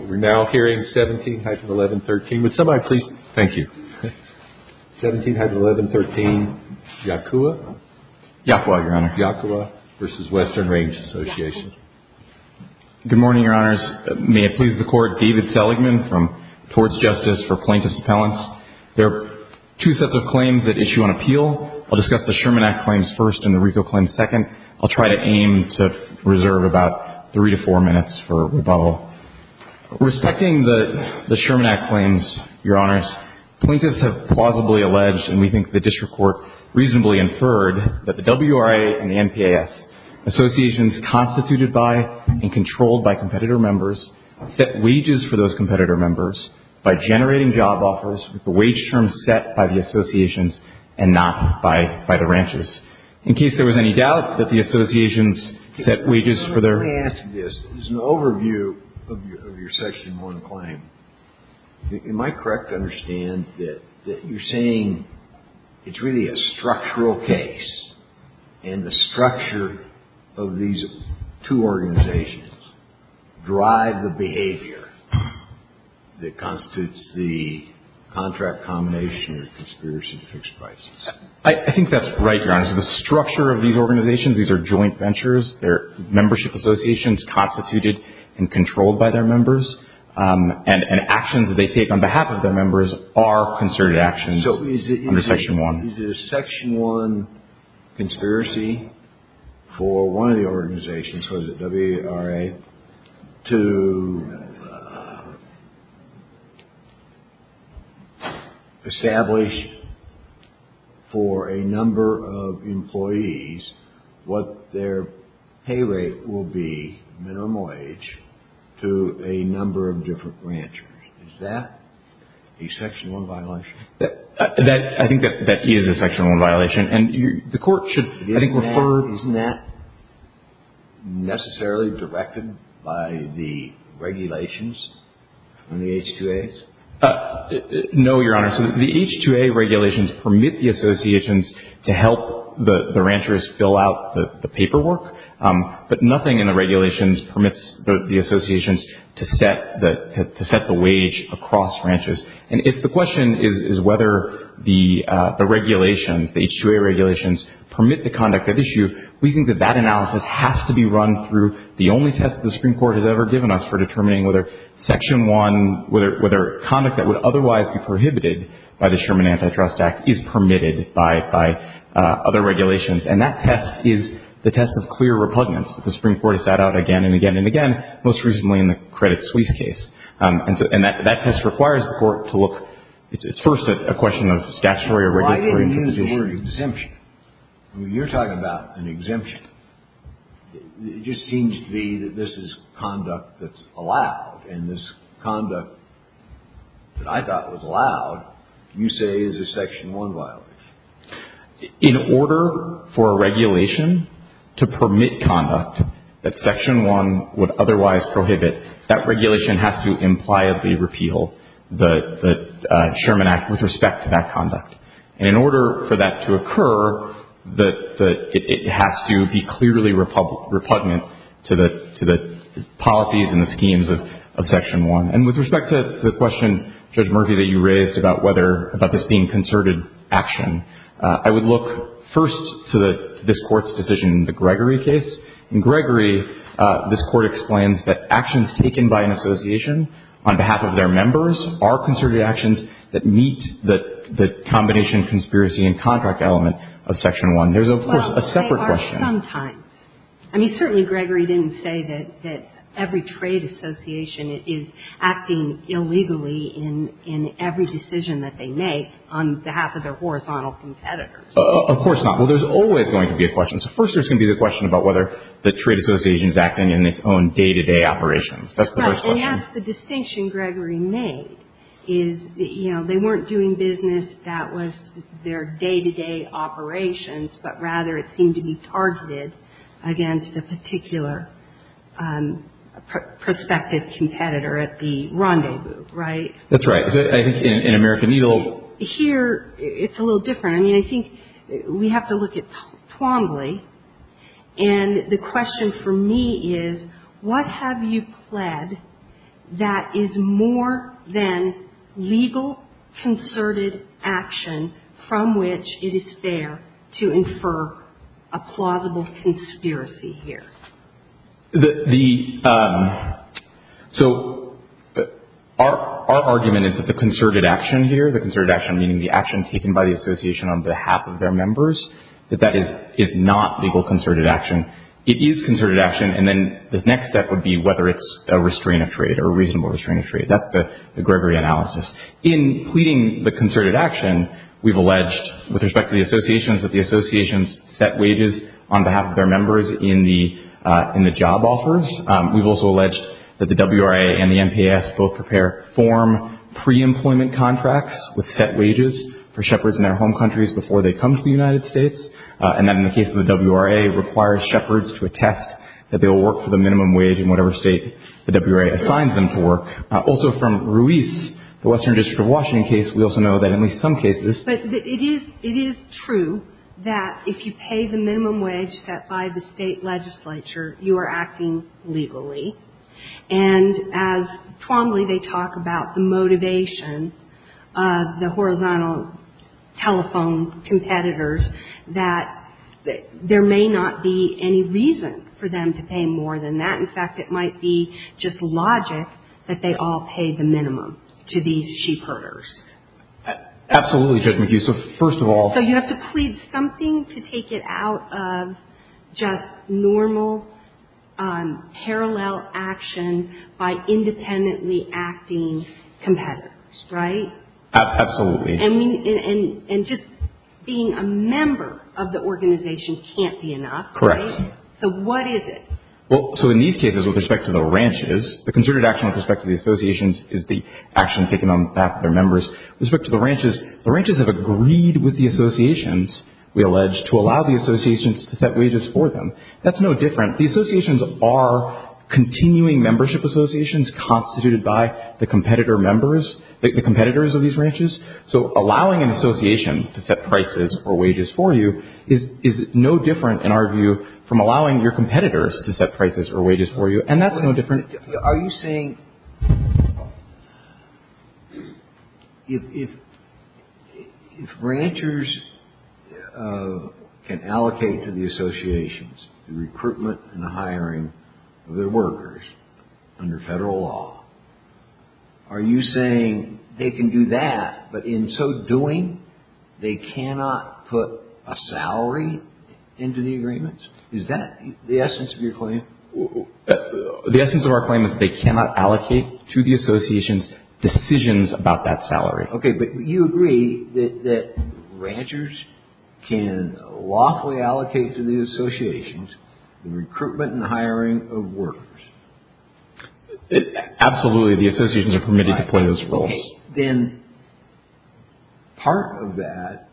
We're now hearing 17-1113. Would somebody please, thank you. 17-1113, Yaqua. Yaqua, Your Honor. Yaqua v. Western Range Association. Good morning, Your Honors. May it please the Court, David Seligman from Torts Justice for Plaintiffs' Appellants. There are two sets of claims that issue on appeal. I'll discuss the Sherman Act claims first and the Rico claims second. I'll try to aim to reserve about three to four minutes for rebuttal. Respecting the Sherman Act claims, Your Honors, plaintiffs have plausibly alleged, and we think the district court reasonably inferred, that the W.R.A. and the N.P.A.S., associations constituted by and controlled by competitor members, set wages for those competitor members by generating job offers with the wage terms set by the associations and not by the ranches. In case there was any doubt that the associations set wages for their — Let me ask you this. There's an overview of your Section 1 claim. Am I correct to understand that you're saying it's really a structural case, and the structure of these two organizations drive the behavior that constitutes the contract combination or conspiracy to fix prices? I think that's right, Your Honors. The structure of these organizations, these are joint ventures. They're membership associations constituted and controlled by their members, and actions that they take on behalf of their members are considered actions under Section 1. Is it a Section 1 conspiracy for one of the organizations, so is it W.R.A., to establish for a number of employees what their pay rate will be, minimal age, to a number of different ranchers? Is that a Section 1 violation? I think that is a Section 1 violation, and the Court should, I think, refer — Isn't that necessarily directed by the regulations on the H-2As? No, Your Honor. So the H-2A regulations permit the associations to help the ranchers fill out the paperwork, but nothing in the regulations permits the associations to set the wage across ranches. And if the question is whether the regulations, the H-2A regulations, permit the conduct at issue, we think that that analysis has to be run through the only test the Supreme Court has ever given us for determining whether Section 1, whether conduct that would otherwise be prohibited by the Sherman Antitrust Act, is permitted by other regulations. And that test is the test of clear repugnance. The Supreme Court has sat out again and again and again, most recently in the Credit Suisse case. And that test requires the Court to look — it's first a question of statutory or regulatory provision. Why do you use the word exemption? I mean, you're talking about an exemption. It just seems to be that this is conduct that's allowed, and this conduct that I thought was allowed, you say, is a Section 1 violation. In order for a regulation to permit conduct that Section 1 would otherwise prohibit, that regulation has to impliably repeal the Sherman Act with respect to that conduct. And in order for that to occur, it has to be clearly repugnant to the policies and the schemes of Section 1. And with respect to the question, Judge Murphy, that you raised about whether — about this being concerted action, I would look first to this Court's decision in the Gregory case. In Gregory, this Court explains that actions taken by an association on behalf of their members are concerted actions that meet the combination conspiracy and contract element of Section 1. There's, of course, a separate question. Well, they are sometimes. I mean, certainly Gregory didn't say that every trade association is acting illegally in every decision that they make on behalf of their horizontal competitors. Of course not. Well, there's always going to be a question. So first there's going to be the question about whether the trade association is acting in its own day-to-day operations. That's the first question. Right. And that's the distinction Gregory made, is, you know, they weren't doing business that was their day-to-day operations, but rather it seemed to be targeted against a particular prospective competitor at the rendezvous, right? That's right. In American Needle — Here, it's a little different. I mean, I think we have to look at Twombly. And the question for me is, what have you pled that is more than legal concerted action from which it is fair to infer a plausible conspiracy here? The — so our argument is that the concerted action here, the concerted action meaning the action taken by the association on behalf of their members, that that is not legal concerted action. It is concerted action. And then the next step would be whether it's a restraint of trade or a reasonable restraint of trade. That's the Gregory analysis. In pleading the concerted action, we've alleged with respect to the associations that the associations set wages on behalf of their members in the job offers. We've also alleged that the WRA and the NPAS both prepare form pre-employment contracts with set wages for shepherds in their home countries before they come to the United States, and that in the case of the WRA, requires shepherds to attest that they will work for the minimum wage in whatever state the WRA assigns them to work. Also from Ruiz, the Western District of Washington case, we also know that in at least some cases — But it is — it is true that if you pay the minimum wage set by the State legislature, you are acting legally. And as Twombly, they talk about the motivation of the horizontal telephone competitors, that there may not be any reason for them to pay more than that. In fact, it might be just logic that they all pay the minimum to these sheepherders. Absolutely, Judge McHugh. So first of all — So you have to plead something to take it out of just normal parallel action by independently acting competitors, right? Absolutely. And just being a member of the organization can't be enough, right? Correct. So what is it? Well, so in these cases, with respect to the ranches, the concerted action with respect to the associations is the action taken on behalf of their members. With respect to the ranches, the ranches have agreed with the associations, we allege, to allow the associations to set wages for them. That's no different. The associations are continuing membership associations constituted by the competitor members — the competitors of these ranches. So allowing an association to set prices or wages for you is no different, in our view, from allowing your competitors to set prices or wages for you. And that's no different — But are you saying if ranchers can allocate to the associations the recruitment and the hiring of their workers under Federal law, are you saying they can do that, but in so doing, they cannot put a salary into the agreements? The essence of our claim is they cannot allocate to the associations decisions about that salary. Okay, but you agree that ranchers can lawfully allocate to the associations the recruitment and hiring of workers? Absolutely. The associations are permitted to play those roles. Okay. Then part of that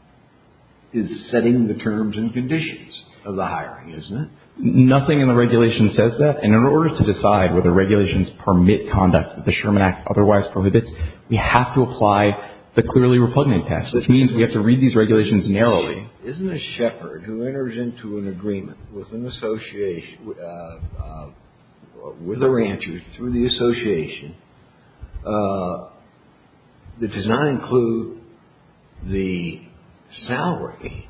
is setting the terms and conditions of the hiring, isn't it? Nothing in the regulation says that. And in order to decide whether regulations permit conduct that the Sherman Act otherwise prohibits, we have to apply the clearly repugnant test, which means we have to read these regulations narrowly. Isn't a shepherd who enters into an agreement with an association — with a rancher through the association, that does not include the salary,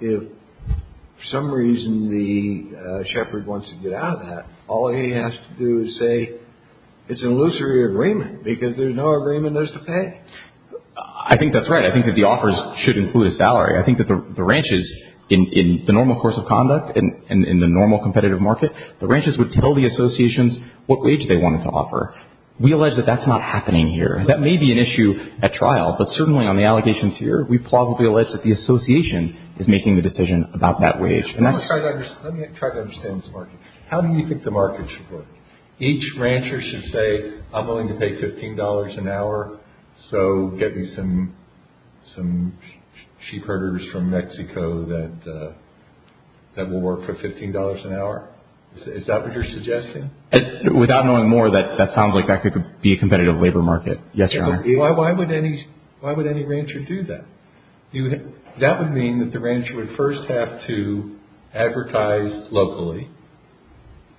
if for some reason the shepherd wants to get out of that, all he has to do is say it's an illusory agreement because there's no agreement there's to pay. I think that's right. I think that the offers should include a salary. I think that the ranches, in the normal course of conduct and in the normal competitive market, the ranches would tell the associations what wage they wanted to offer. We allege that that's not happening here. That may be an issue at trial, but certainly on the allegations here, we plausibly allege that the association is making the decision about that wage. Let me try to understand this market. How do you think the market should work? Each rancher should say, I'm willing to pay $15 an hour, so get me some sheepherders from Mexico that will work for $15 an hour. Is that what you're suggesting? Without knowing more, that sounds like that could be a competitive labor market. Yes, Your Honor. Why would any rancher do that? That would mean that the rancher would first have to advertise locally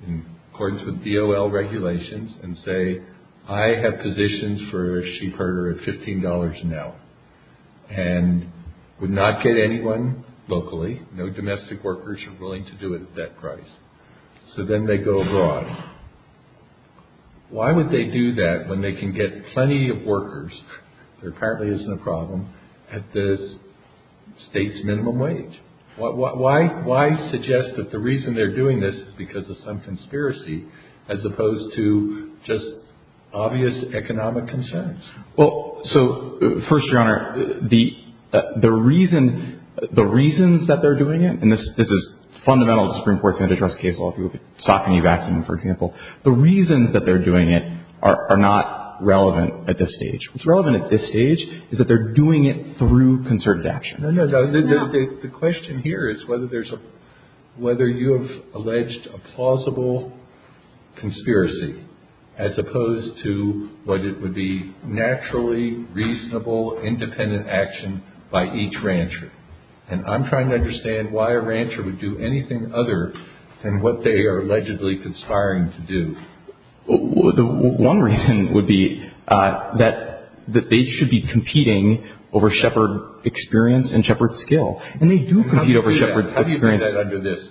in accordance with DOL regulations and say, I have positions for a sheepherder at $15 an hour and would not get anyone locally. No domestic workers are willing to do it at that price. So then they go abroad. Why would they do that when they can get plenty of workers, there apparently isn't a problem, at the state's minimum wage? Why suggest that the reason they're doing this is because of some conspiracy as opposed to just obvious economic concerns? Well, so first, Your Honor, the reasons that they're doing it, and this is fundamental to the Supreme Court's antitrust case law, if you look at Saucony vaccine, for example, the reasons that they're doing it are not relevant at this stage. What's relevant at this stage is that they're doing it through concerted action. The question here is whether you have alleged a plausible conspiracy as opposed to what it would be naturally reasonable independent action by each rancher. And I'm trying to understand why a rancher would do anything other than what they are allegedly conspiring to do. One reason would be that they should be competing over shepherd experience and shepherd skill, and they do compete over shepherd experience. How do you do that under this?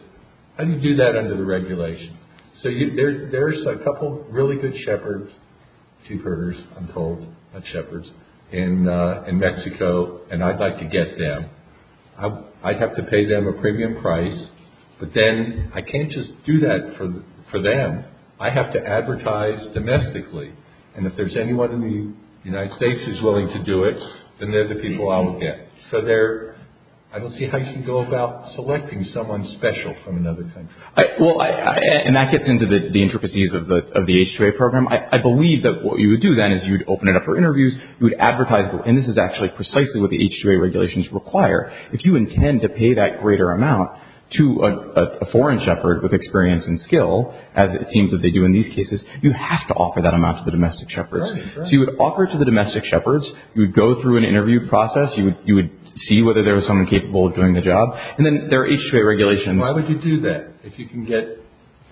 How do you do that under the regulations? So there's a couple of really good shepherds, sheepherders, I'm told, not shepherds, in Mexico, and I'd like to get them. I'd have to pay them a premium price, but then I can't just do that for them. I have to advertise domestically, and if there's anyone in the United States who's willing to do it, then they're the people I would get. So I don't see how you should go about selecting someone special from another country. Well, and that gets into the intricacies of the H-2A program. I believe that what you would do then is you would open it up for interviews. You would advertise, and this is actually precisely what the H-2A regulations require. If you intend to pay that greater amount to a foreign shepherd with experience and skill, as it seems that they do in these cases, you have to offer that amount to the domestic shepherds. So you would offer it to the domestic shepherds. You would go through an interview process. You would see whether there was someone capable of doing the job, and then there are H-2A regulations. Why would you do that if you can get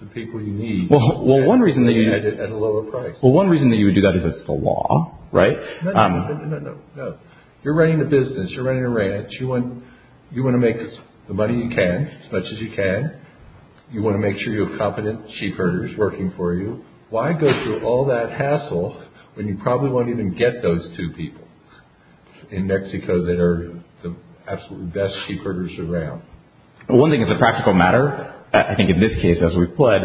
the people you need at a lower price? Well, one reason that you would do that is it's the law, right? No, no, no, no, no. You're running a business. You're running a ranch. You want to make the money you can, as much as you can. You want to make sure you have competent sheepherders working for you. Why go through all that hassle when you probably won't even get those two people in Mexico that are the absolute best sheepherders around? Well, one thing as a practical matter, I think in this case as we've pled,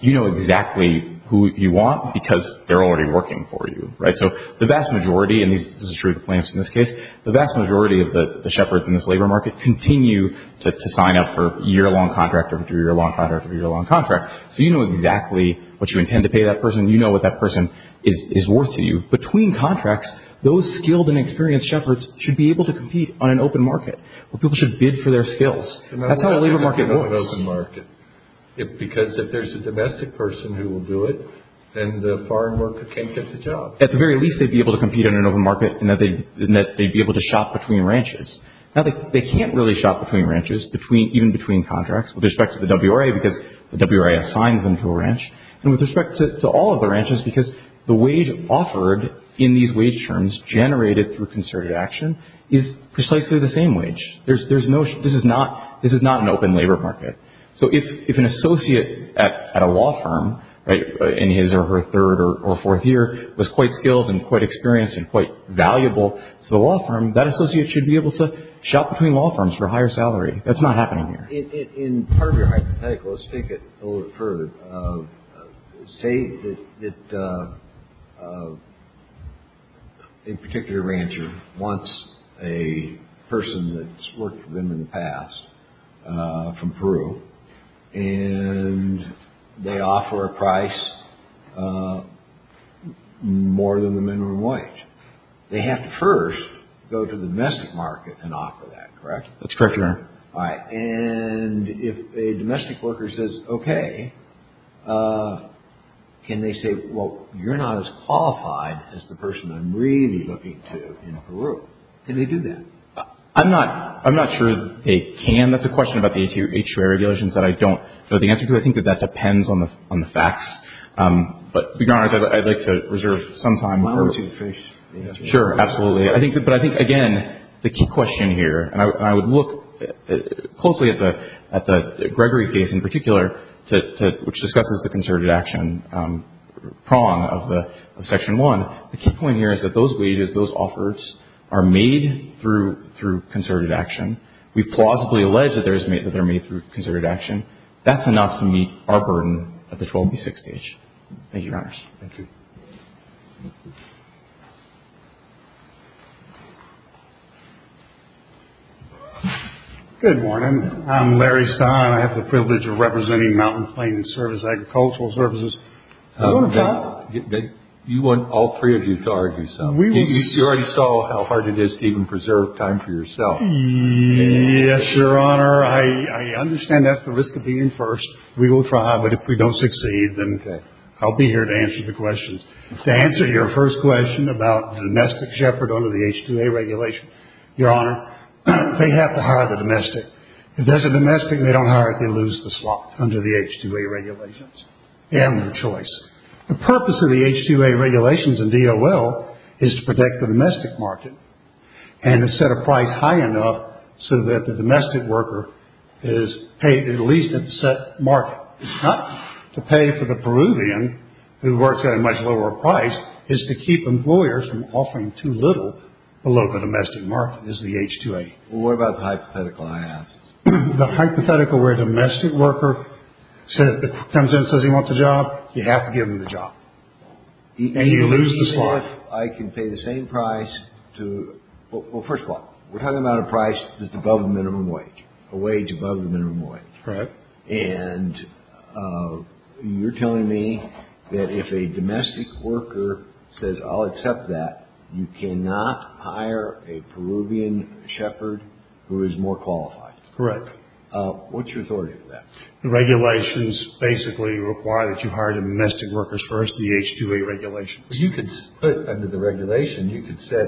you know exactly who you want because they're already working for you, right? So the vast majority, and this is true of the plaintiffs in this case, the vast majority of the shepherds in this labor market continue to sign up for a year-long contract or a two-year-long contract or a year-long contract. So you know exactly what you intend to pay that person. You know what that person is worth to you. Between contracts, those skilled and experienced shepherds should be able to compete on an open market where people should bid for their skills. That's how a labor market works. Because if there's a domestic person who will do it, then the foreign worker can't get the job. At the very least, they'd be able to compete in an open market in that they'd be able to shop between ranches. Now, they can't really shop between ranches, even between contracts, with respect to the WRA because the WRA assigns them to a ranch, and with respect to all of the ranches because the wage offered in these wage terms generated through concerted action is precisely the same wage. This is not an open labor market. So if an associate at a law firm in his or her third or fourth year was quite skilled and quite experienced and quite valuable to the law firm, that associate should be able to shop between law firms for a higher salary. That's not happening here. In part of your hypothetical, let's take it a little further. Say that a particular rancher wants a person that's worked for them in the past from Peru, and they offer a price more than the minimum wage. They have to first go to the domestic market and offer that, correct? That's correct, Your Honor. All right. And if a domestic worker says, okay, can they say, well, you're not as qualified as the person I'm really looking to in Peru. Can they do that? I'm not sure that they can. That's a question about the HRA regulations that I don't know the answer to. I think that that depends on the facts. But, Your Honor, I'd like to reserve some time. I want to finish the answer. Sure, absolutely. But I think, again, the key question here, and I would look closely at the Gregory case in particular, which discusses the concerted action prong of Section 1. The key point here is that those wages, those offers, are made through concerted action. We plausibly allege that they're made through concerted action. That's enough to meet our burden at the 12B6 stage. Thank you, Your Honors. Thank you. Good morning. I'm Larry Stein. I have the privilege of representing Mountain Plain Service Agricultural Services. You want all three of you to argue something? You already saw how hard it is to even preserve time for yourself. Yes, Your Honor. I understand that's the risk of being first. We will try. But if we don't succeed, then I'll be here to answer the questions. To answer your first question about the domestic shepherd under the H-2A regulation, Your Honor, they have to hire the domestic. If there's a domestic and they don't hire it, they lose the slot under the H-2A regulations. They have no choice. The purpose of the H-2A regulations and DOL is to protect the domestic market and to set a price high enough so that the domestic worker is paid at least at the set market. It's not to pay for the Peruvian who works at a much lower price. It's to keep employers from offering too little below the domestic market is the H-2A. Well, what about the hypothetical I asked? The hypothetical where a domestic worker comes in and says he wants a job, you have to give him the job. And you lose the slot. Well, if I can pay the same price to – well, first of all, we're talking about a price that's above the minimum wage, a wage above the minimum wage. Correct. And you're telling me that if a domestic worker says, I'll accept that, you cannot hire a Peruvian shepherd who is more qualified. Correct. What's your authority with that? The regulations basically require that you hire domestic workers first, the H-2A regulations. You could put under the regulation, you could set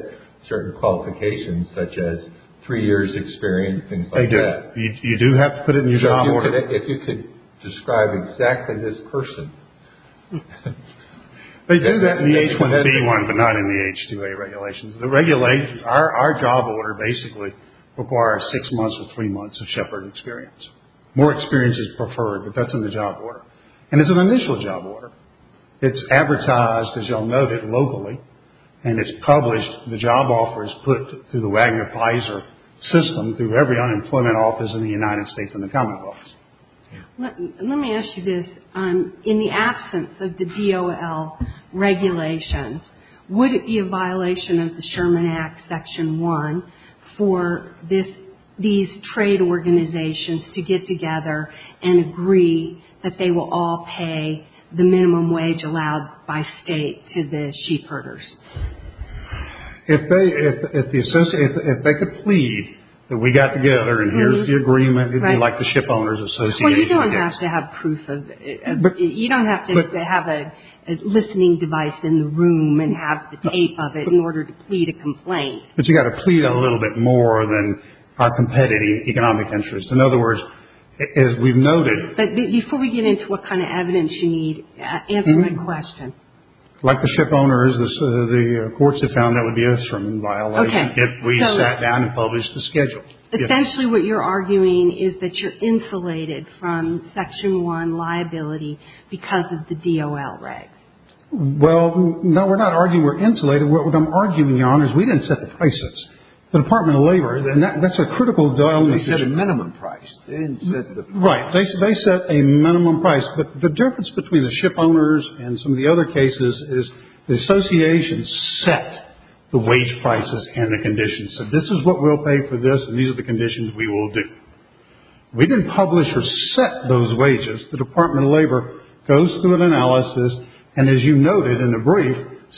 certain qualifications such as three years' experience, things like that. They do. You do have to put it in your job order. If you could describe exactly this person. They do that in the H-1B one, but not in the H-2A regulations. Our job order basically requires six months or three months of shepherd experience. More experience is preferred, but that's in the job order. And it's an initial job order. It's advertised, as you'll note, locally, and it's published. The job offer is put through the Wagner-Peyser system through every unemployment office in the United States and the Commonwealth. Let me ask you this. In the absence of the DOL regulations, would it be a violation of the Sherman Act, Section 1, for these trade organizations to get together and agree that they will all pay the minimum wage allowed by state to the sheepherders? If they could plead that we got together and here's the agreement, it would be like the Shipowners Association. Well, you don't have to have proof of it. You don't have to have a listening device in the room and have the tape of it in order to plead a complaint. But you've got to plead a little bit more than our competitive economic interests. In other words, as we've noted. But before we get into what kind of evidence you need, answer my question. Like the shipowners, the courts have found that would be a Sherman violation if we sat down and published the schedule. Essentially, what you're arguing is that you're insulated from Section 1 liability because of the DOL regs. Essentially, what I'm arguing, Your Honors, we didn't set the prices. The Department of Labor, and that's a critical dilemma. They set a minimum price. Right. They set a minimum price. But the difference between the shipowners and some of the other cases is the association set the wage prices and the conditions. So this is what we'll pay for this, and these are the conditions we will do. We didn't publish or set those wages. The Department of Labor goes through an analysis and, as you noted in the brief,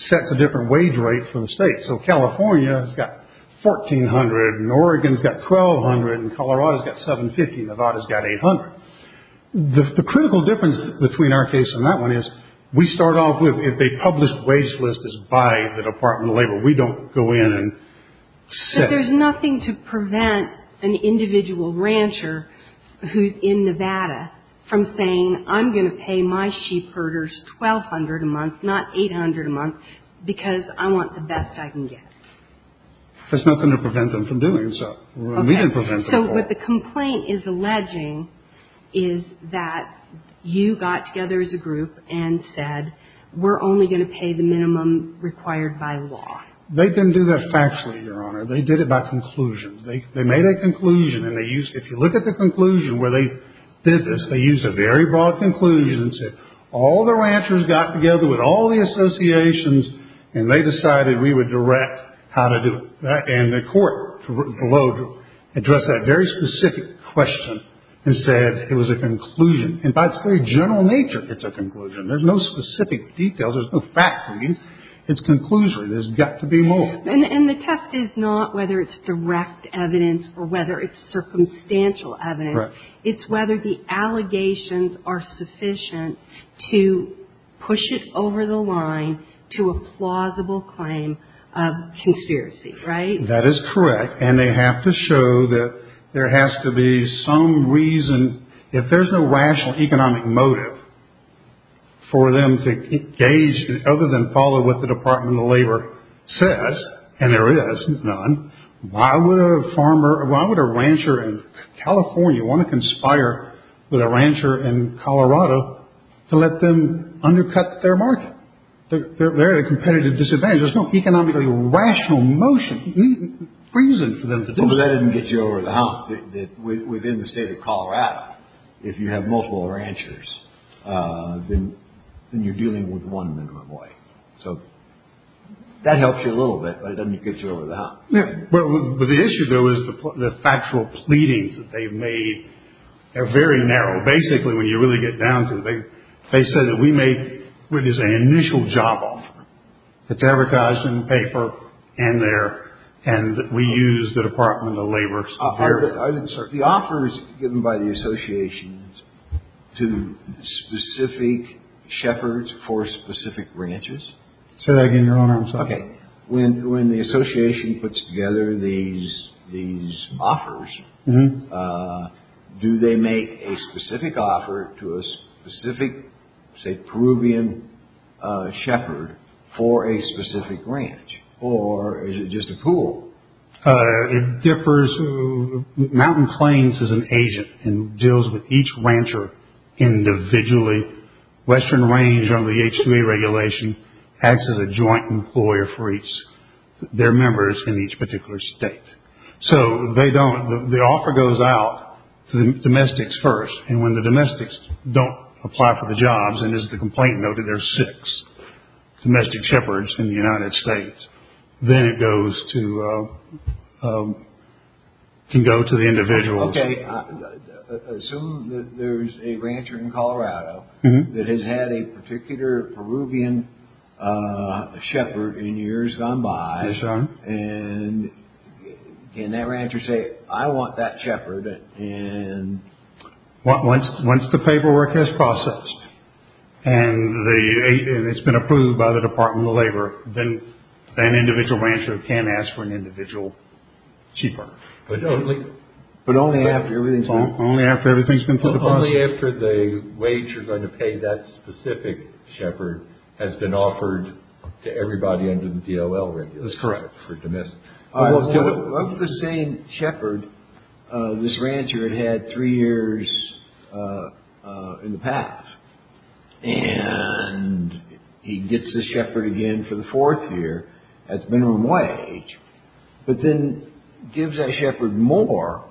sets a different wage rate for the states. So California has got $1,400, and Oregon's got $1,200, and Colorado's got $750, and Nevada's got $800. The critical difference between our case and that one is we start off with if a published wage list is by the Department of Labor, we don't go in and set it. But there's nothing to prevent an individual rancher who's in Nevada from saying, I'm going to pay my sheepherders $1,200 a month, not $800 a month, because I want the best I can get. There's nothing to prevent them from doing so. Okay. We didn't prevent them from doing so. So what the complaint is alleging is that you got together as a group and said, we're only going to pay the minimum required by law. They didn't do that factually, Your Honor. They did it by conclusions. They made a conclusion, and they used – if you look at the conclusion where they did this, they used a very broad conclusion and said, all the ranchers got together with all the associations, and they decided we would direct how to do it. And the court below addressed that very specific question and said it was a conclusion. And by its very general nature, it's a conclusion. There's no specific details. There's no fact. It's conclusory. There's got to be more. And the test is not whether it's direct evidence or whether it's circumstantial evidence. Right. It's whether the allegations are sufficient to push it over the line to a plausible claim of conspiracy, right? That is correct. And they have to show that there has to be some reason. If there's no rational economic motive for them to engage other than follow what the Department of Labor says, and there is none, why would a rancher in California want to conspire with a rancher in Colorado to let them undercut their market? They're at a competitive disadvantage. There's no economically rational reason for them to do that. Well, that doesn't get you over the hump. Within the state of Colorado, if you have multiple ranchers, then you're dealing with one minimum wage. So that helps you a little bit, but it doesn't get you over the hump. Well, the issue, though, is the factual pleadings that they've made are very narrow. Basically, when you really get down to it, they say that we make what is an initial job offer. It's advertised in paper in there, and we use the Department of Labor's offer. I didn't start. The offer is given by the associations to specific shepherds for specific ranches. I'm sorry. Okay. When the association puts together these offers, do they make a specific offer to a specific, say, Peruvian shepherd for a specific ranch, or is it just a pool? It differs. Mountain Plains is an agent and deals with each rancher individually. Western Range, under the H-2E regulation, acts as a joint employer for their members in each particular state. So they don't. The offer goes out to the domestics first, and when the domestics don't apply for the jobs, and as the complaint noted, there are six domestic shepherds in the United States, then it can go to the individuals. Okay. Assume that there's a rancher in Colorado that has had a particular Peruvian shepherd in years gone by. Yes, sir. And can that rancher say, I want that shepherd? Once the paperwork has processed, and it's been approved by the Department of Labor, then an individual rancher can ask for an individual cheaper. But only after everything's been processed? Only after the wage you're going to pay that specific shepherd has been offered to everybody under the D-O-L regulation. That's correct. For domestic. I was saying shepherd, this rancher had had three years in the past, and he gets this shepherd again for the fourth year as minimum wage, but then gives that shepherd more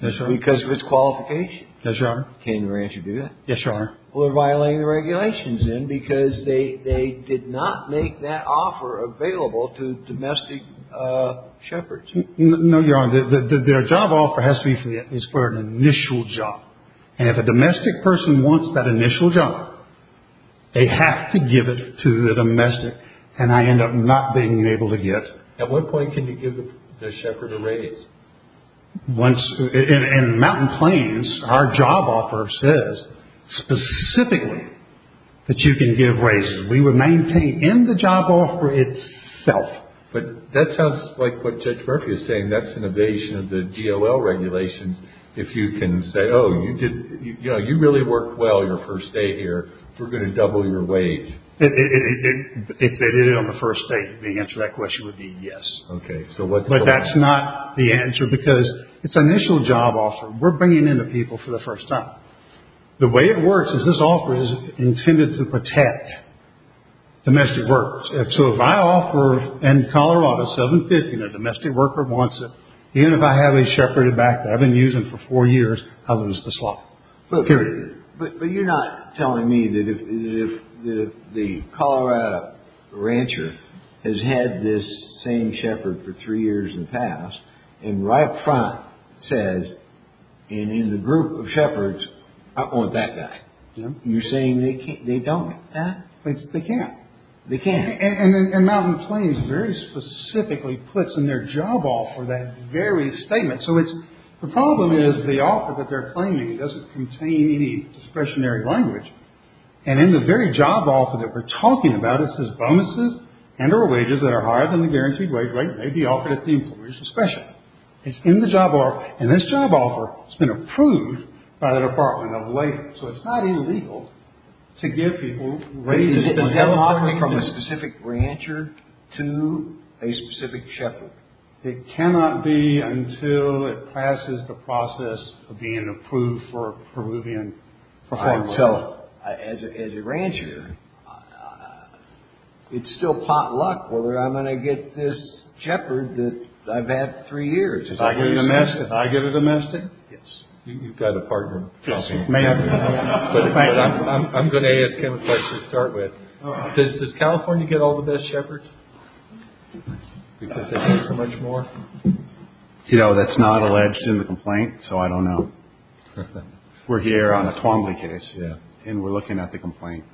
because of his qualification. Yes, Your Honor. Can the rancher do that? Yes, Your Honor. Well, they're violating the regulations then because they did not make that offer available to domestic shepherds. No, Your Honor. Their job offer has to be for an initial job. And if a domestic person wants that initial job, they have to give it to the domestic, and I end up not being able to get it. At what point can you give the shepherd a raise? In Mountain Plains, our job offer says specifically that you can give raises. We would maintain in the job offer itself. But that sounds like what Judge Murphy is saying. That's an evasion of the D-O-L regulations. If you can say, oh, you really worked well your first day here, we're going to double your wage. If they did it on the first day, the answer to that question would be yes. Okay. But that's not the answer because it's an initial job offer. We're bringing in the people for the first time. The way it works is this offer is intended to protect domestic workers. So if I offer in Colorado $750 and a domestic worker wants it, even if I have a shepherded back that I've been using for four years, I lose the slot, period. But you're not telling me that if the Colorado rancher has had this same shepherd for three years in the past and right up front says, and in the group of shepherds, I want that guy. You're saying they don't. They can't. They can't. And Mountain Plains very specifically puts in their job offer that very statement. The problem is the offer that they're claiming doesn't contain any discretionary language. And in the very job offer that we're talking about, it says bonuses and or wages that are higher than the guaranteed wage rate may be offered at the employer's discretion. It's in the job offer. And this job offer has been approved by the Department of Labor. So it's not illegal to give people raises. It is not from a specific rancher to a specific shepherd. It cannot be until it passes the process of being approved for Peruvian farmland. So as a rancher, it's still pot luck whether I'm going to get this shepherd that I've had three years. If I get a domestic. If I get a domestic? Yes. You've got a partner. Yes, ma'am. But I'm going to ask him a question to start with. Does California get all the best shepherds? Much more. You know, that's not alleged in the complaint. So I don't know. We're here on a Twombly case. Yeah. And we're looking at the complaint.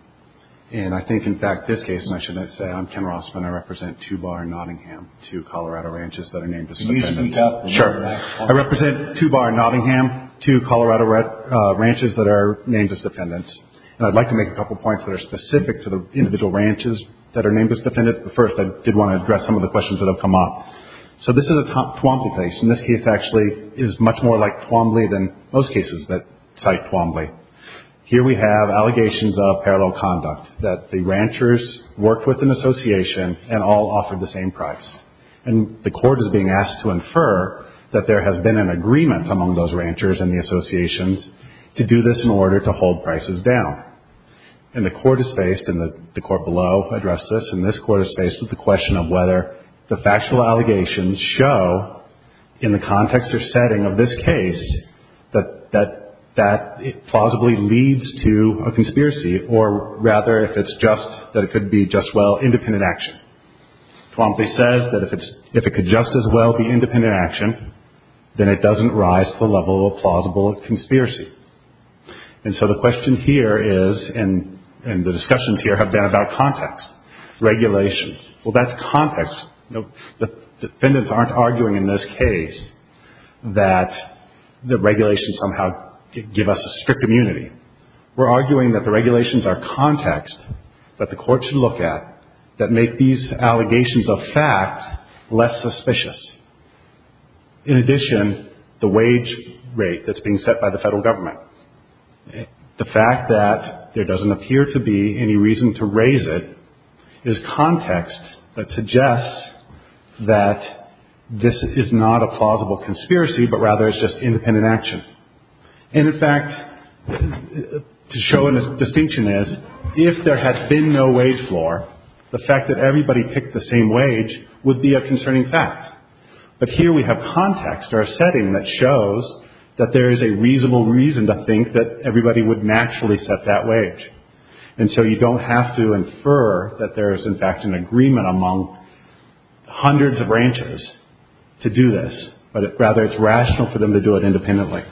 And I think, in fact, this case, and I shouldn't say I'm Ken Rossman. I represent two bar Nottingham, two Colorado ranches that are named as defendants. Sure. I represent two bar Nottingham, two Colorado ranches that are named as defendants. And I'd like to make a couple of points that are specific to the individual ranches that are named as defendants. First, I did want to address some of the questions that have come up. So this is a Twombly case. And this case actually is much more like Twombly than most cases that cite Twombly. Here we have allegations of parallel conduct, that the ranchers worked with an association and all offered the same price. And the court is being asked to infer that there has been an agreement among those ranchers and the associations to do this in order to hold prices down. And the court is faced, and the court below addressed this, and this court is faced with the question of whether the factual allegations show, in the context or setting of this case, that that plausibly leads to a conspiracy. Or, rather, if it's just that it could be just, well, independent action. Twombly says that if it could just as well be independent action, then it doesn't rise to the level of plausible conspiracy. And so the question here is, and the discussions here have been about context. Regulations. Well, that's context. Defendants aren't arguing in this case that the regulations somehow give us a strict immunity. We're arguing that the regulations are context that the court should look at that make these allegations of fact less suspicious. In addition, the wage rate that's being set by the federal government. The fact that there doesn't appear to be any reason to raise it is context that suggests that this is not a plausible conspiracy, but rather it's just independent action. And, in fact, to show a distinction is, if there had been no wage floor, the fact that everybody picked the same wage would be a concerning fact. But here we have context or a setting that shows that there is a reasonable reason to think that everybody would naturally set that wage. And so you don't have to infer that there is, in fact, an agreement among hundreds of branches to do this. But rather, it's rational for them to do it independently.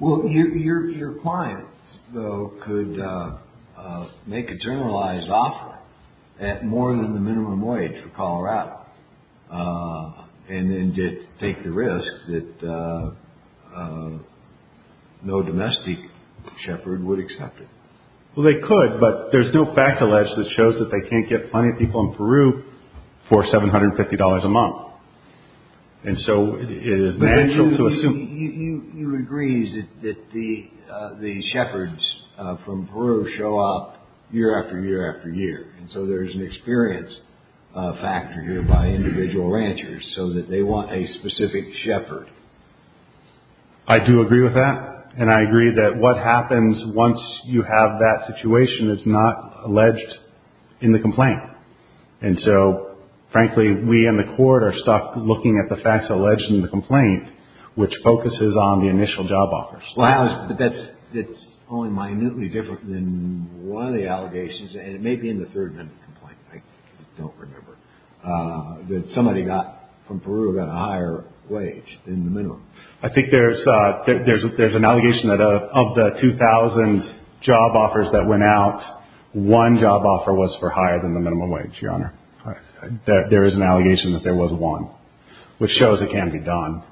Well, your clients, though, could make a generalized offer at more than the minimum wage for Colorado and then take the risk that no domestic shepherd would accept it. Well, they could, but there's no fact alleged that shows that they can't get plenty of people in Peru for seven hundred fifty dollars a month. And so it is natural to assume. You agree that the shepherds from Peru show up year after year after year. And so there is an experience factor here by individual ranchers so that they want a specific shepherd. I do agree with that. And I agree that what happens once you have that situation is not alleged in the complaint. And so, frankly, we in the court are stuck looking at the facts alleged in the complaint, which focuses on the initial job offers. Wow. But that's it's only minutely different than one of the allegations. And it may be in the third complaint. I don't remember that somebody got from Peru got a higher wage than the minimum. I think there's there's there's an allegation that of the two thousand job offers that went out, one job offer was for higher than the minimum wage. Your Honor, there is an allegation that there was one which shows it can be done.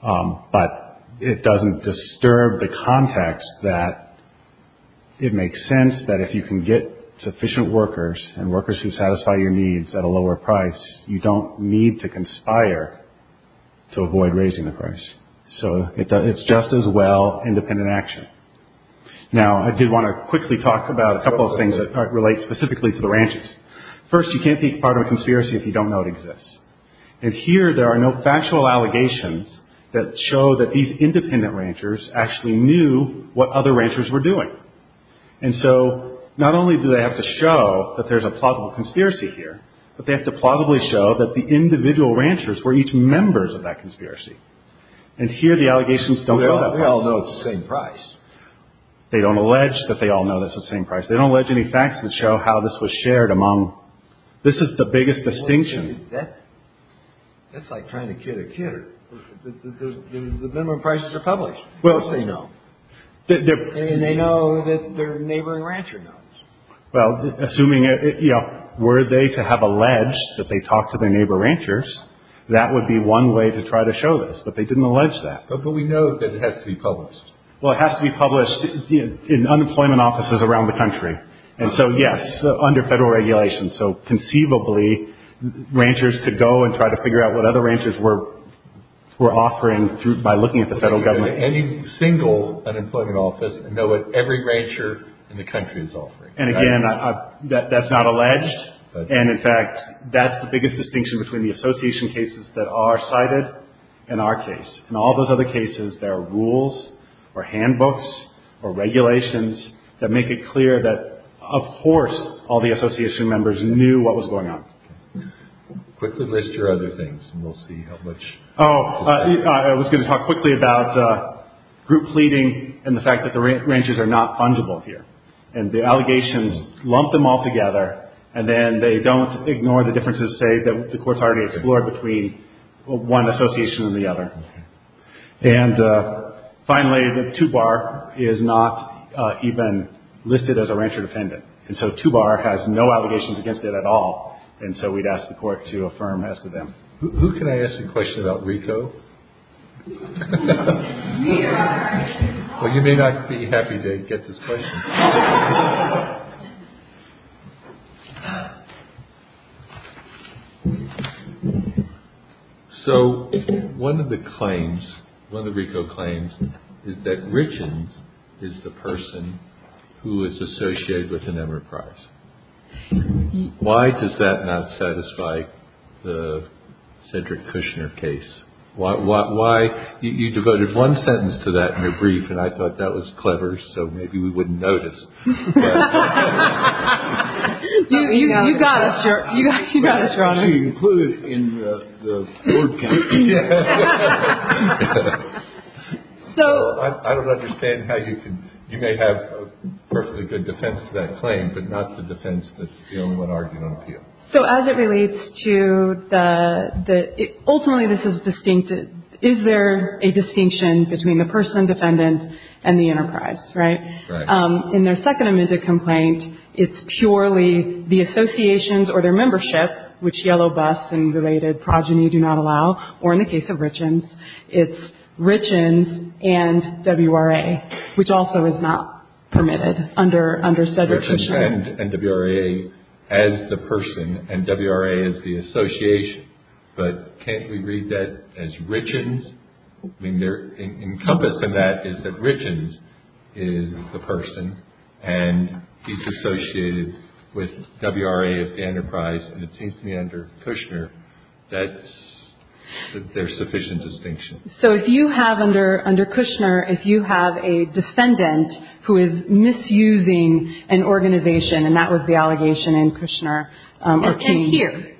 But it doesn't disturb the context that it makes sense that if you can get sufficient workers and workers who satisfy your needs at a lower price, you don't need to conspire to avoid raising the price. So it's just as well independent action. Now, I did want to quickly talk about a couple of things that relate specifically to the ranchers. First, you can't be part of a conspiracy if you don't know it exists. And here there are no factual allegations that show that these independent ranchers actually knew what other ranchers were doing. And so not only do they have to show that there's a possible conspiracy here, but they have to plausibly show that the individual ranchers were each members of that conspiracy. And here the allegations don't know the same price. They don't allege that they all know this the same price. They don't let any facts to show how this was shared among. This is the biggest distinction. That's like trying to get a kid. The minimum prices are published. Well, they know that they know that their neighbor and rancher. Well, assuming it were they to have alleged that they talked to their neighbor ranchers, that would be one way to try to show this. But they didn't allege that. But we know that it has to be published. Well, it has to be published in unemployment offices around the country. And so, yes, under federal regulations. So conceivably ranchers to go and try to figure out what other ranchers were offering through by looking at the federal government, any single unemployment office and know what every rancher in the country is offering. And again, that's not alleged. And in fact, that's the biggest distinction between the association cases that are cited in our case. And all those other cases, there are rules or handbooks or regulations that make it clear that, of course, all the association members knew what was going on. Quickly list your other things and we'll see how much. Oh, I was going to talk quickly about group pleading and the fact that the ranchers are not fungible here. And the allegations lump them all together. And then they don't ignore the differences, say, that the courts already explored between one association and the other. And finally, the two bar is not even listed as a rancher defendant. And so two bar has no allegations against it at all. And so we'd ask the court to affirm as to them. Who can I ask a question about Rico? Well, you may not be happy to get this question. So one of the claims, one of the Rico claims is that Richard is the person who is associated with an enterprise. Why does that not satisfy the centric Kushner case? Why? You devoted one sentence to that in your brief, and I thought that was clever. So maybe we wouldn't notice. You got us. You included in the board. So I don't understand how you can. You may have a perfectly good defense to that claim, but not the defense. So as it relates to that, ultimately, this is distinct. Is there a distinction between the person defendant and the enterprise? Right. In their second amended complaint, it's purely the associations or their membership, which yellow bus and related progeny do not allow, or in the case of richens, it's richens and W.R.A., which also is not permitted under Cedric Kushner. And W.R.A. as the person, and W.R.A. as the association, but can't we read that as richens? I mean, encompassing that is that richens is the person, and he's associated with W.R.A. as the enterprise, and it seems to me under Kushner that there's sufficient distinction. So if you have under Kushner, if you have a defendant who is misusing an organization, and that was the allegation in Kushner or King. And here.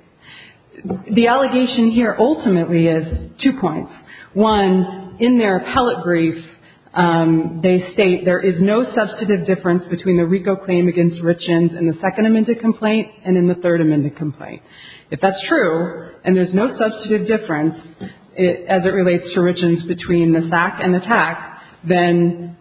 The allegation here ultimately is two points. One, in their appellate brief, they state there is no substantive difference between the RICO claim against richens in the second amended complaint and in the third amended complaint. If that's true, and there's no substantive difference as it relates to richens between the SAC and the TAC, then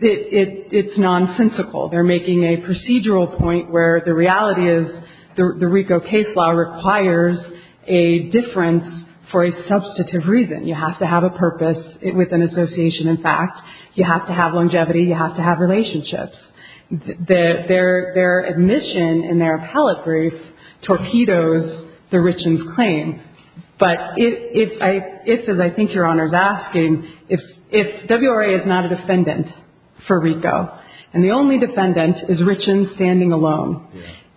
it's nonsensical. They're making a procedural point where the reality is the RICO case law requires a difference for a substantive reason. You have to have a purpose with an association in fact. You have to have longevity. You have to have relationships. Their admission in their appellate brief torpedoes the richens' claim. But if, as I think Your Honor is asking, if W.R.A. is not a defendant for RICO, and the only defendant is richens standing alone,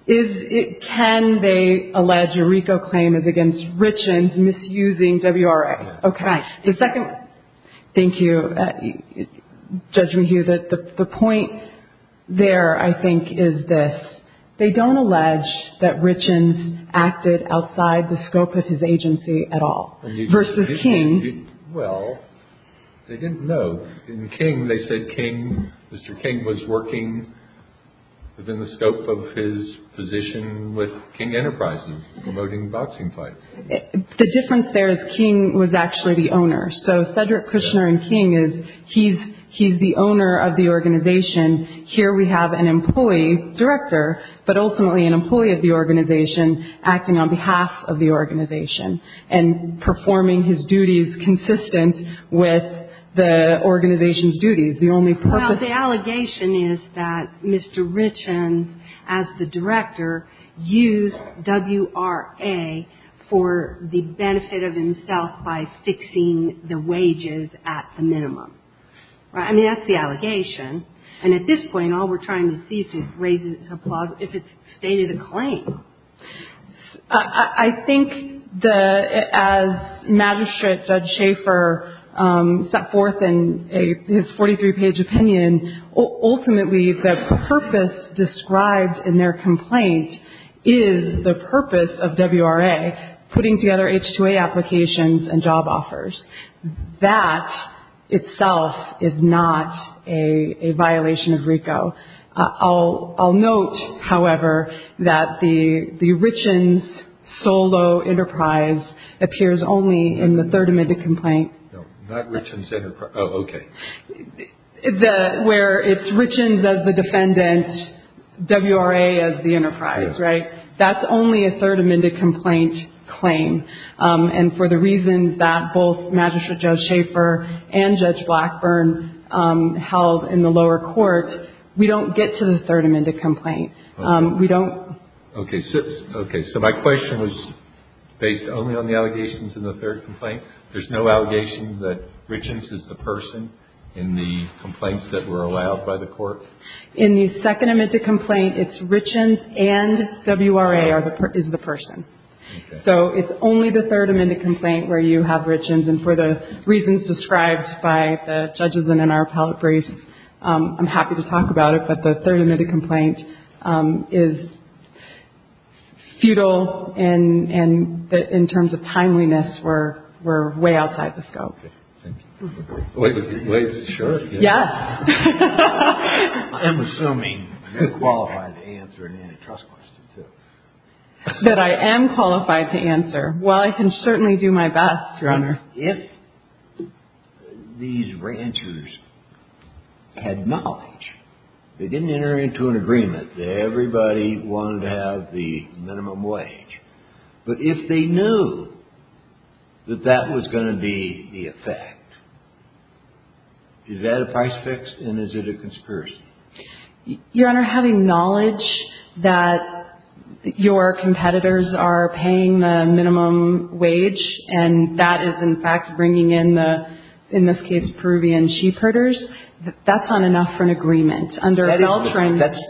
can they allege a RICO claim is against richens misusing W.R.A.? Okay. Thank you, Judge McHugh. The point there, I think, is this. They don't allege that richens acted outside the scope of his agency at all versus King. Well, they didn't know. In King, they said King, Mr. King was working within the scope of his position with King Enterprises promoting boxing fights. The difference there is King was actually the owner. So Cedric Kushner in King is he's the owner of the organization. Here we have an employee, director, but ultimately an employee of the organization acting on behalf of the organization and performing his duties consistent with the organization's duties. Well, the allegation is that Mr. Richens, as the director, used W.R.A. for the benefit of himself by fixing the wages at the minimum. Right? I mean, that's the allegation. And at this point, all we're trying to see is if it raises its applause, if it's stated a claim. I think as Magistrate Judge Schaefer set forth in his 43-page opinion, ultimately the purpose described in their complaint is the purpose of W.R.A., putting together H-2A applications and job offers. That itself is not a violation of RICO. I'll note, however, that the Richens solo enterprise appears only in the third amended complaint. No, not Richens enterprise. Oh, okay. Where it's Richens as the defendant, W.R.A. as the enterprise. Right? That's only a third amended complaint claim. And for the reasons that both Magistrate Judge Schaefer and Judge Blackburn held in the lower court, we don't get to the third amended complaint. We don't. Okay. So my question was based only on the allegations in the third complaint. There's no allegation that Richens is the person in the complaints that were allowed by the court? In the second amended complaint, it's Richens and W.R.A. is the person. Okay. So it's only the third amended complaint where you have Richens. And for the reasons described by the judges in our appellate briefs, I'm happy to talk about it, but the third amended complaint is futile in terms of timeliness. We're way outside the scope. Okay. Thank you. Wait, is it sure? Yes. I'm assuming you're qualified to answer an antitrust question, too. That I am qualified to answer. Well, I can certainly do my best, Your Honor. If these ranchers had knowledge, they didn't enter into an agreement that everybody wanted to have the minimum wage, but if they knew that that was going to be the effect, is that a price fix and is it a conspiracy? Your Honor, having knowledge that your competitors are paying the minimum wage and that is, in fact, bringing in the, in this case, Peruvian sheepherders, that's not enough for an agreement. That's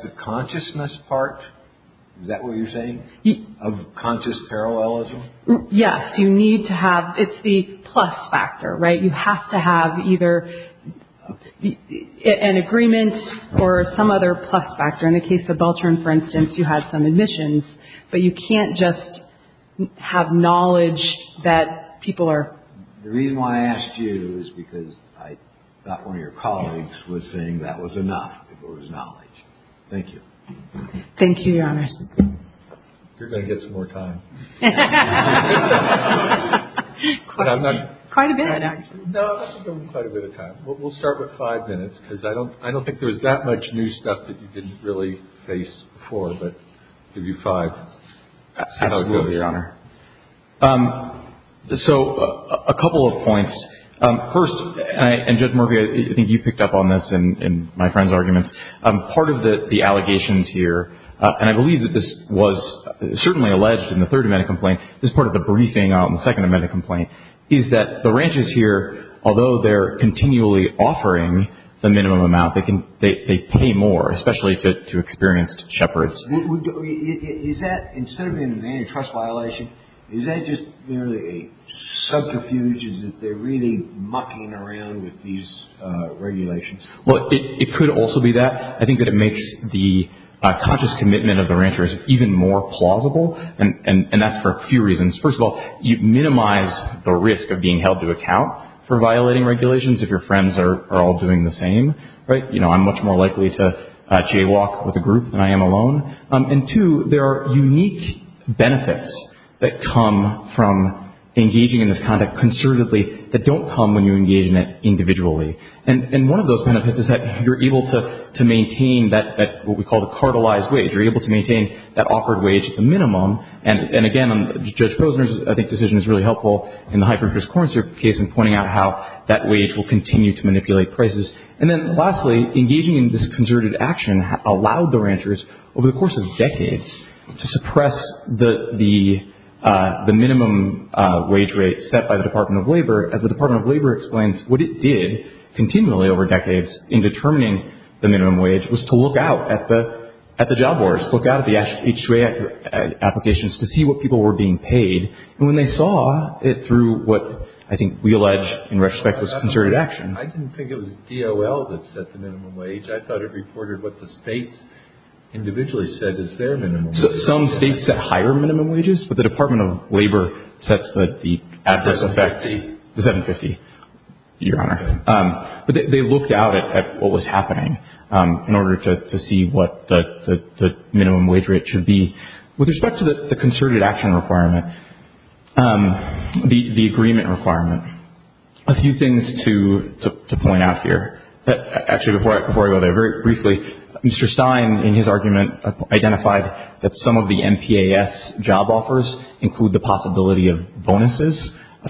the consciousness part? Is that what you're saying? Of conscious parallelism? Yes. You need to have, it's the plus factor, right? You have to have either an agreement or some other plus factor. In the case of Beltran, for instance, you had some admissions, but you can't just have knowledge that people are... The reason why I asked you is because I thought one of your colleagues was saying that was enough if it was knowledge. Thank you. Thank you, Your Honor. You're going to get some more time. Quite a bit, actually. No, I think you'll get quite a bit of time. We'll start with five minutes because I don't think there's that much new stuff that you didn't really face before, but I'll give you five. Absolutely, Your Honor. So a couple of points. First, and Judge Murphy, I think you picked up on this in my friend's arguments, part of the allegations here, and I believe that this was certainly alleged in the third amendment complaint, this part of the briefing out in the second amendment complaint, is that the ranches here, although they're continually offering the minimum amount, they pay more, especially to experienced shepherds. Is that, instead of being an antitrust violation, is that just merely a subterfuge? Is it they're really mucking around with these regulations? Well, it could also be that. I think that it makes the conscious commitment of the ranchers even more plausible, and that's for a few reasons. First of all, you minimize the risk of being held to account for violating regulations if your friends are all doing the same. I'm much more likely to jaywalk with a group than I am alone. And two, there are unique benefits that come from engaging in this conduct conservatively that don't come when you engage in it individually. And one of those benefits is that you're able to maintain what we call the cartelized wage. You're able to maintain that offered wage at the minimum. And again, Judge Posner's, I think, decision is really helpful in the high-fructose corn syrup case in pointing out how that wage will continue to manipulate prices. And then lastly, engaging in this conservative action allowed the ranchers, over the course of decades, to suppress the minimum wage rate set by the Department of Labor, as the Department of Labor explains what it did continually over decades in determining the minimum wage was to look out at the job boards, look out at the H-2A applications to see what people were being paid. And when they saw it through what I think we allege in retrospect was conservative action. I didn't think it was DOL that set the minimum wage. I thought it reported what the states individually said is their minimum wage. Some states set higher minimum wages, but the Department of Labor sets the adverse effects. The 750? The 750, Your Honor. But they looked out at what was happening in order to see what the minimum wage rate should be. With respect to the conservative action requirement, the agreement requirement, a few things to point out here. Actually, before I go there, very briefly, Mr. Stein, in his argument, identified that some of the MPAS job offers include the possibility of bonuses.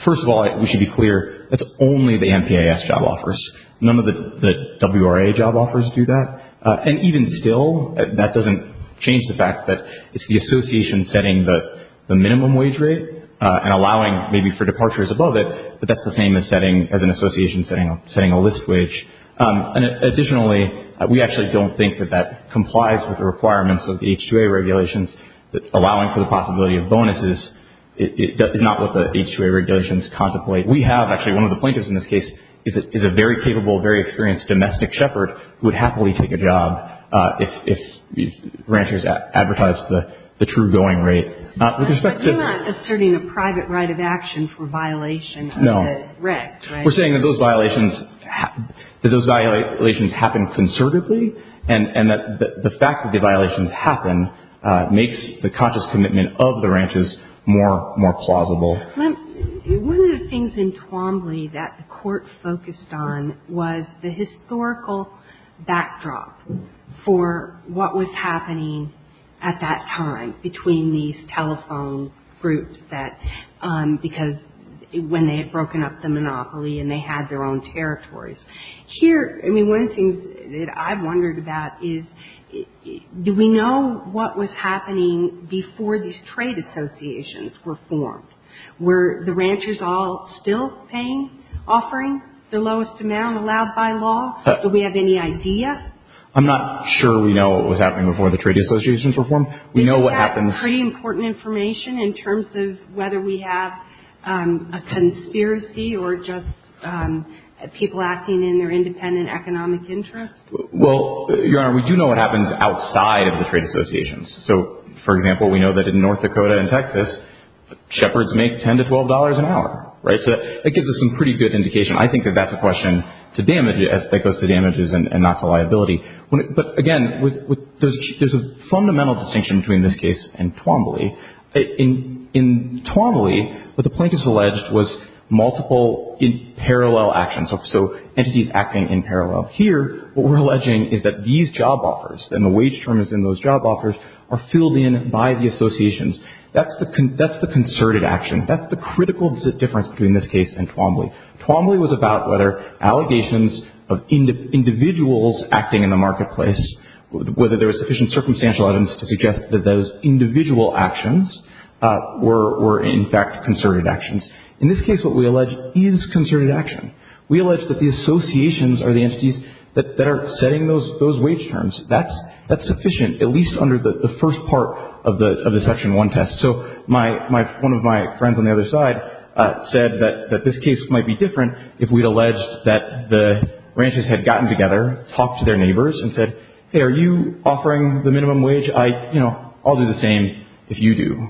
First of all, we should be clear, that's only the MPAS job offers. None of the WRA job offers do that. And even still, that doesn't change the fact that it's the association setting the minimum wage rate and allowing maybe for departures above it, but that's the same as an association setting a list wage. Additionally, we actually don't think that that complies with the requirements of the H-2A regulations, allowing for the possibility of bonuses, not what the H-2A regulations contemplate. We have actually one of the plaintiffs in this case is a very capable, very experienced domestic shepherd who would happily take a job if ranchers advertised the true going rate. But you're not asserting a private right of action for violation of the REC, right? No. We're saying that those violations happen conservatively, and that the fact that the violations happen makes the conscious commitment of the ranches more plausible. One of the things in Twombly that the Court focused on was the historical backdrop for what was happening at that time between these telephone groups, because when they had broken up the monopoly and they had their own territories. Here, I mean, one of the things that I've wondered about is, do we know what was happening before these trade associations were formed? Were the ranchers all still paying, offering the lowest amount allowed by law? Do we have any idea? I'm not sure we know what was happening before the trade associations were formed. We know what happens. Do we have pretty important information in terms of whether we have a conspiracy or just people acting in their independent economic interest? Well, Your Honor, we do know what happens outside of the trade associations. So, for example, we know that in North Dakota and Texas, shepherds make $10 to $12 an hour, right? So that gives us some pretty good indication. I think that that's a question to damage, as that goes to damages and not to liability. But, again, there's a fundamental distinction between this case and Twombly. In Twombly, what the plaintiffs alleged was multiple in parallel actions, so entities acting in parallel. Here, what we're alleging is that these job offers and the wage terms in those job offers are filled in by the associations. That's the concerted action. That's the critical difference between this case and Twombly. Twombly was about whether allegations of individuals acting in the marketplace, whether there was sufficient circumstantial evidence to suggest that those individual actions were, in fact, concerted actions. In this case, what we allege is concerted action. We allege that the associations are the entities that are setting those wage terms. That's sufficient, at least under the first part of the Section 1 test. So one of my friends on the other side said that this case might be different if we'd alleged that the ranches had gotten together, talked to their neighbors, and said, Hey, are you offering the minimum wage? I'll do the same if you do.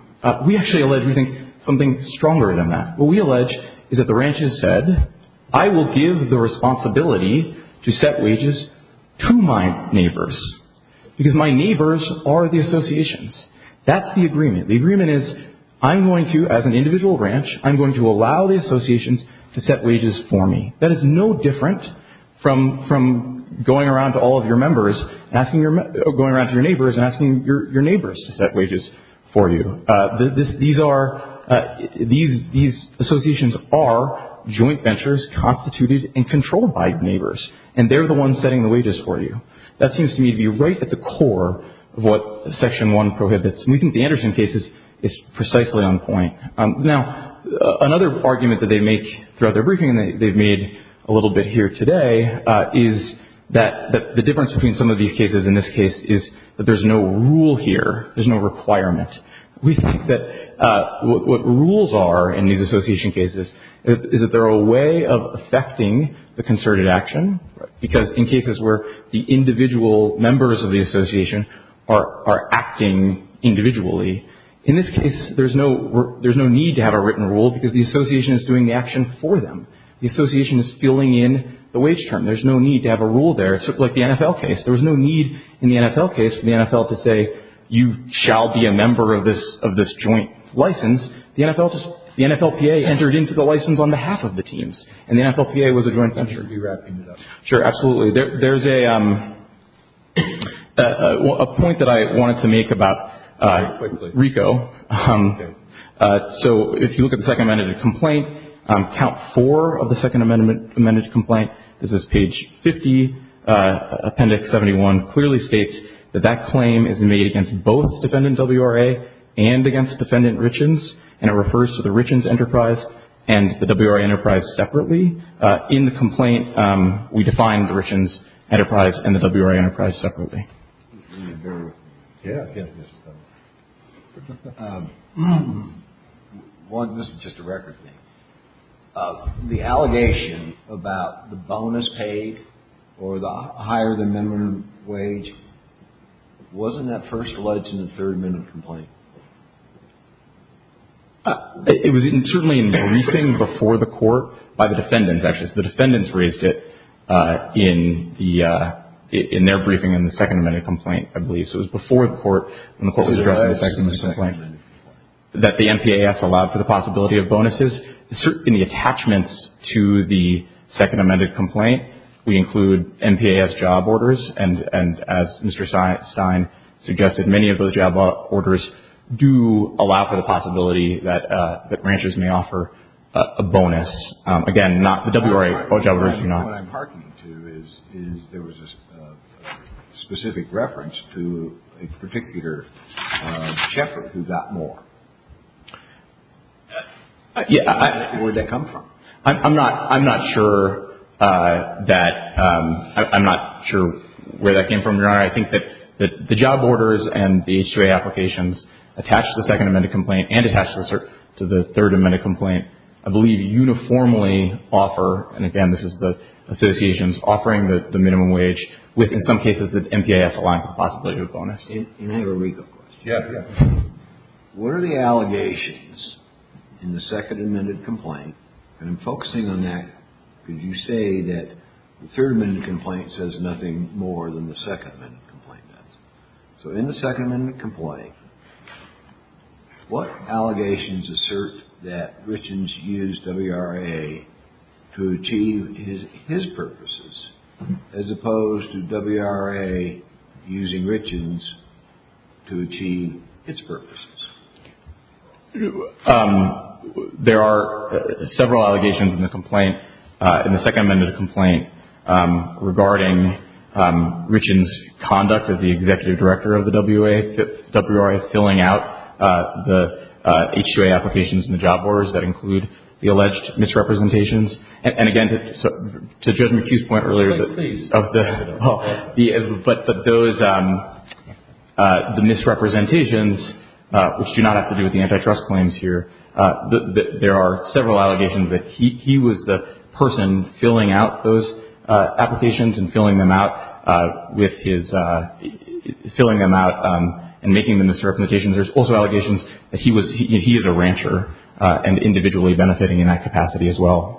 We actually allege we think something stronger than that. What we allege is that the ranches said, I will give the responsibility to set wages to my neighbors, because my neighbors are the associations. That's the agreement. The agreement is, I'm going to, as an individual ranch, I'm going to allow the associations to set wages for me. That is no different from going around to all of your members, going around to your neighbors, and asking your neighbors to set wages for you. These associations are joint ventures constituted and controlled by neighbors, and they're the ones setting the wages for you. That seems to me to be right at the core of what Section 1 prohibits, and we think the Anderson case is precisely on point. Now, another argument that they make throughout their briefing, and they've made a little bit here today, is that the difference between some of these cases and this case is that there's no rule here. There's no requirement. We think that what rules are in these association cases is that they're a way of affecting the concerted action, because in cases where the individual members of the association are acting individually, in this case there's no need to have a written rule because the association is doing the action for them. The association is filling in the wage term. There's no need to have a rule there. It's like the NFL case. There was no need in the NFL case for the NFL to say you shall be a member of this joint license. The NFL PA entered into the license on behalf of the teams, and the NFL PA was a joint venture. Sure, absolutely. There's a point that I wanted to make about RICO. So if you look at the second amended complaint, count four of the second amended complaint. This is page 50. Appendix 71 clearly states that that claim is made against both defendant WRA and against defendant Richens, and it refers to the Richens enterprise and the WRA enterprise separately. In the complaint, we define the Richens enterprise and the WRA enterprise separately. This is just a record thing. The allegation about the bonus paid or the higher the minimum wage, wasn't that first alleged in the third amended complaint? It was certainly in the briefing before the court by the defendants, actually. So the defendants raised it in their briefing in the second amended complaint, I believe. So it was before the court when the court was addressing the second amended complaint. That the MPAS allowed for the possibility of bonuses. In the attachments to the second amended complaint, we include MPAS job orders, and as Mr. Stein suggested, many of those job orders do allow for the possibility that ranchers may offer a bonus. Again, not the WRA job orders. The question I'm harking to is there was a specific reference to a particular shepherd who got more. Where did that come from? I'm not sure where that came from, Your Honor. I think that the job orders and the H-2A applications attached to the second amended complaint and attached to the third amended complaint, I believe, uniformly offer, and again, this is the associations offering the minimum wage with, in some cases, the MPAS allowing for the possibility of a bonus. Can I have a recall question? Yes. What are the allegations in the second amended complaint, and I'm focusing on that because you say that the third amended complaint says nothing more than the second amended complaint does. So in the second amended complaint, what allegations assert that Richens used WRA to achieve his purposes, as opposed to WRA using Richens to achieve its purposes? There are several allegations in the complaint, in the second amended complaint, regarding Richens' conduct as the executive director of the WRA, filling out the H-2A applications and the job orders that include the alleged misrepresentations. And again, to Judge McHugh's point earlier, but the misrepresentations, which do not have to do with the antitrust claims here, there are several allegations that he was the person filling out those applications and filling them out and making the misrepresentations. There's also allegations that he is a rancher and individually benefiting in that capacity as well.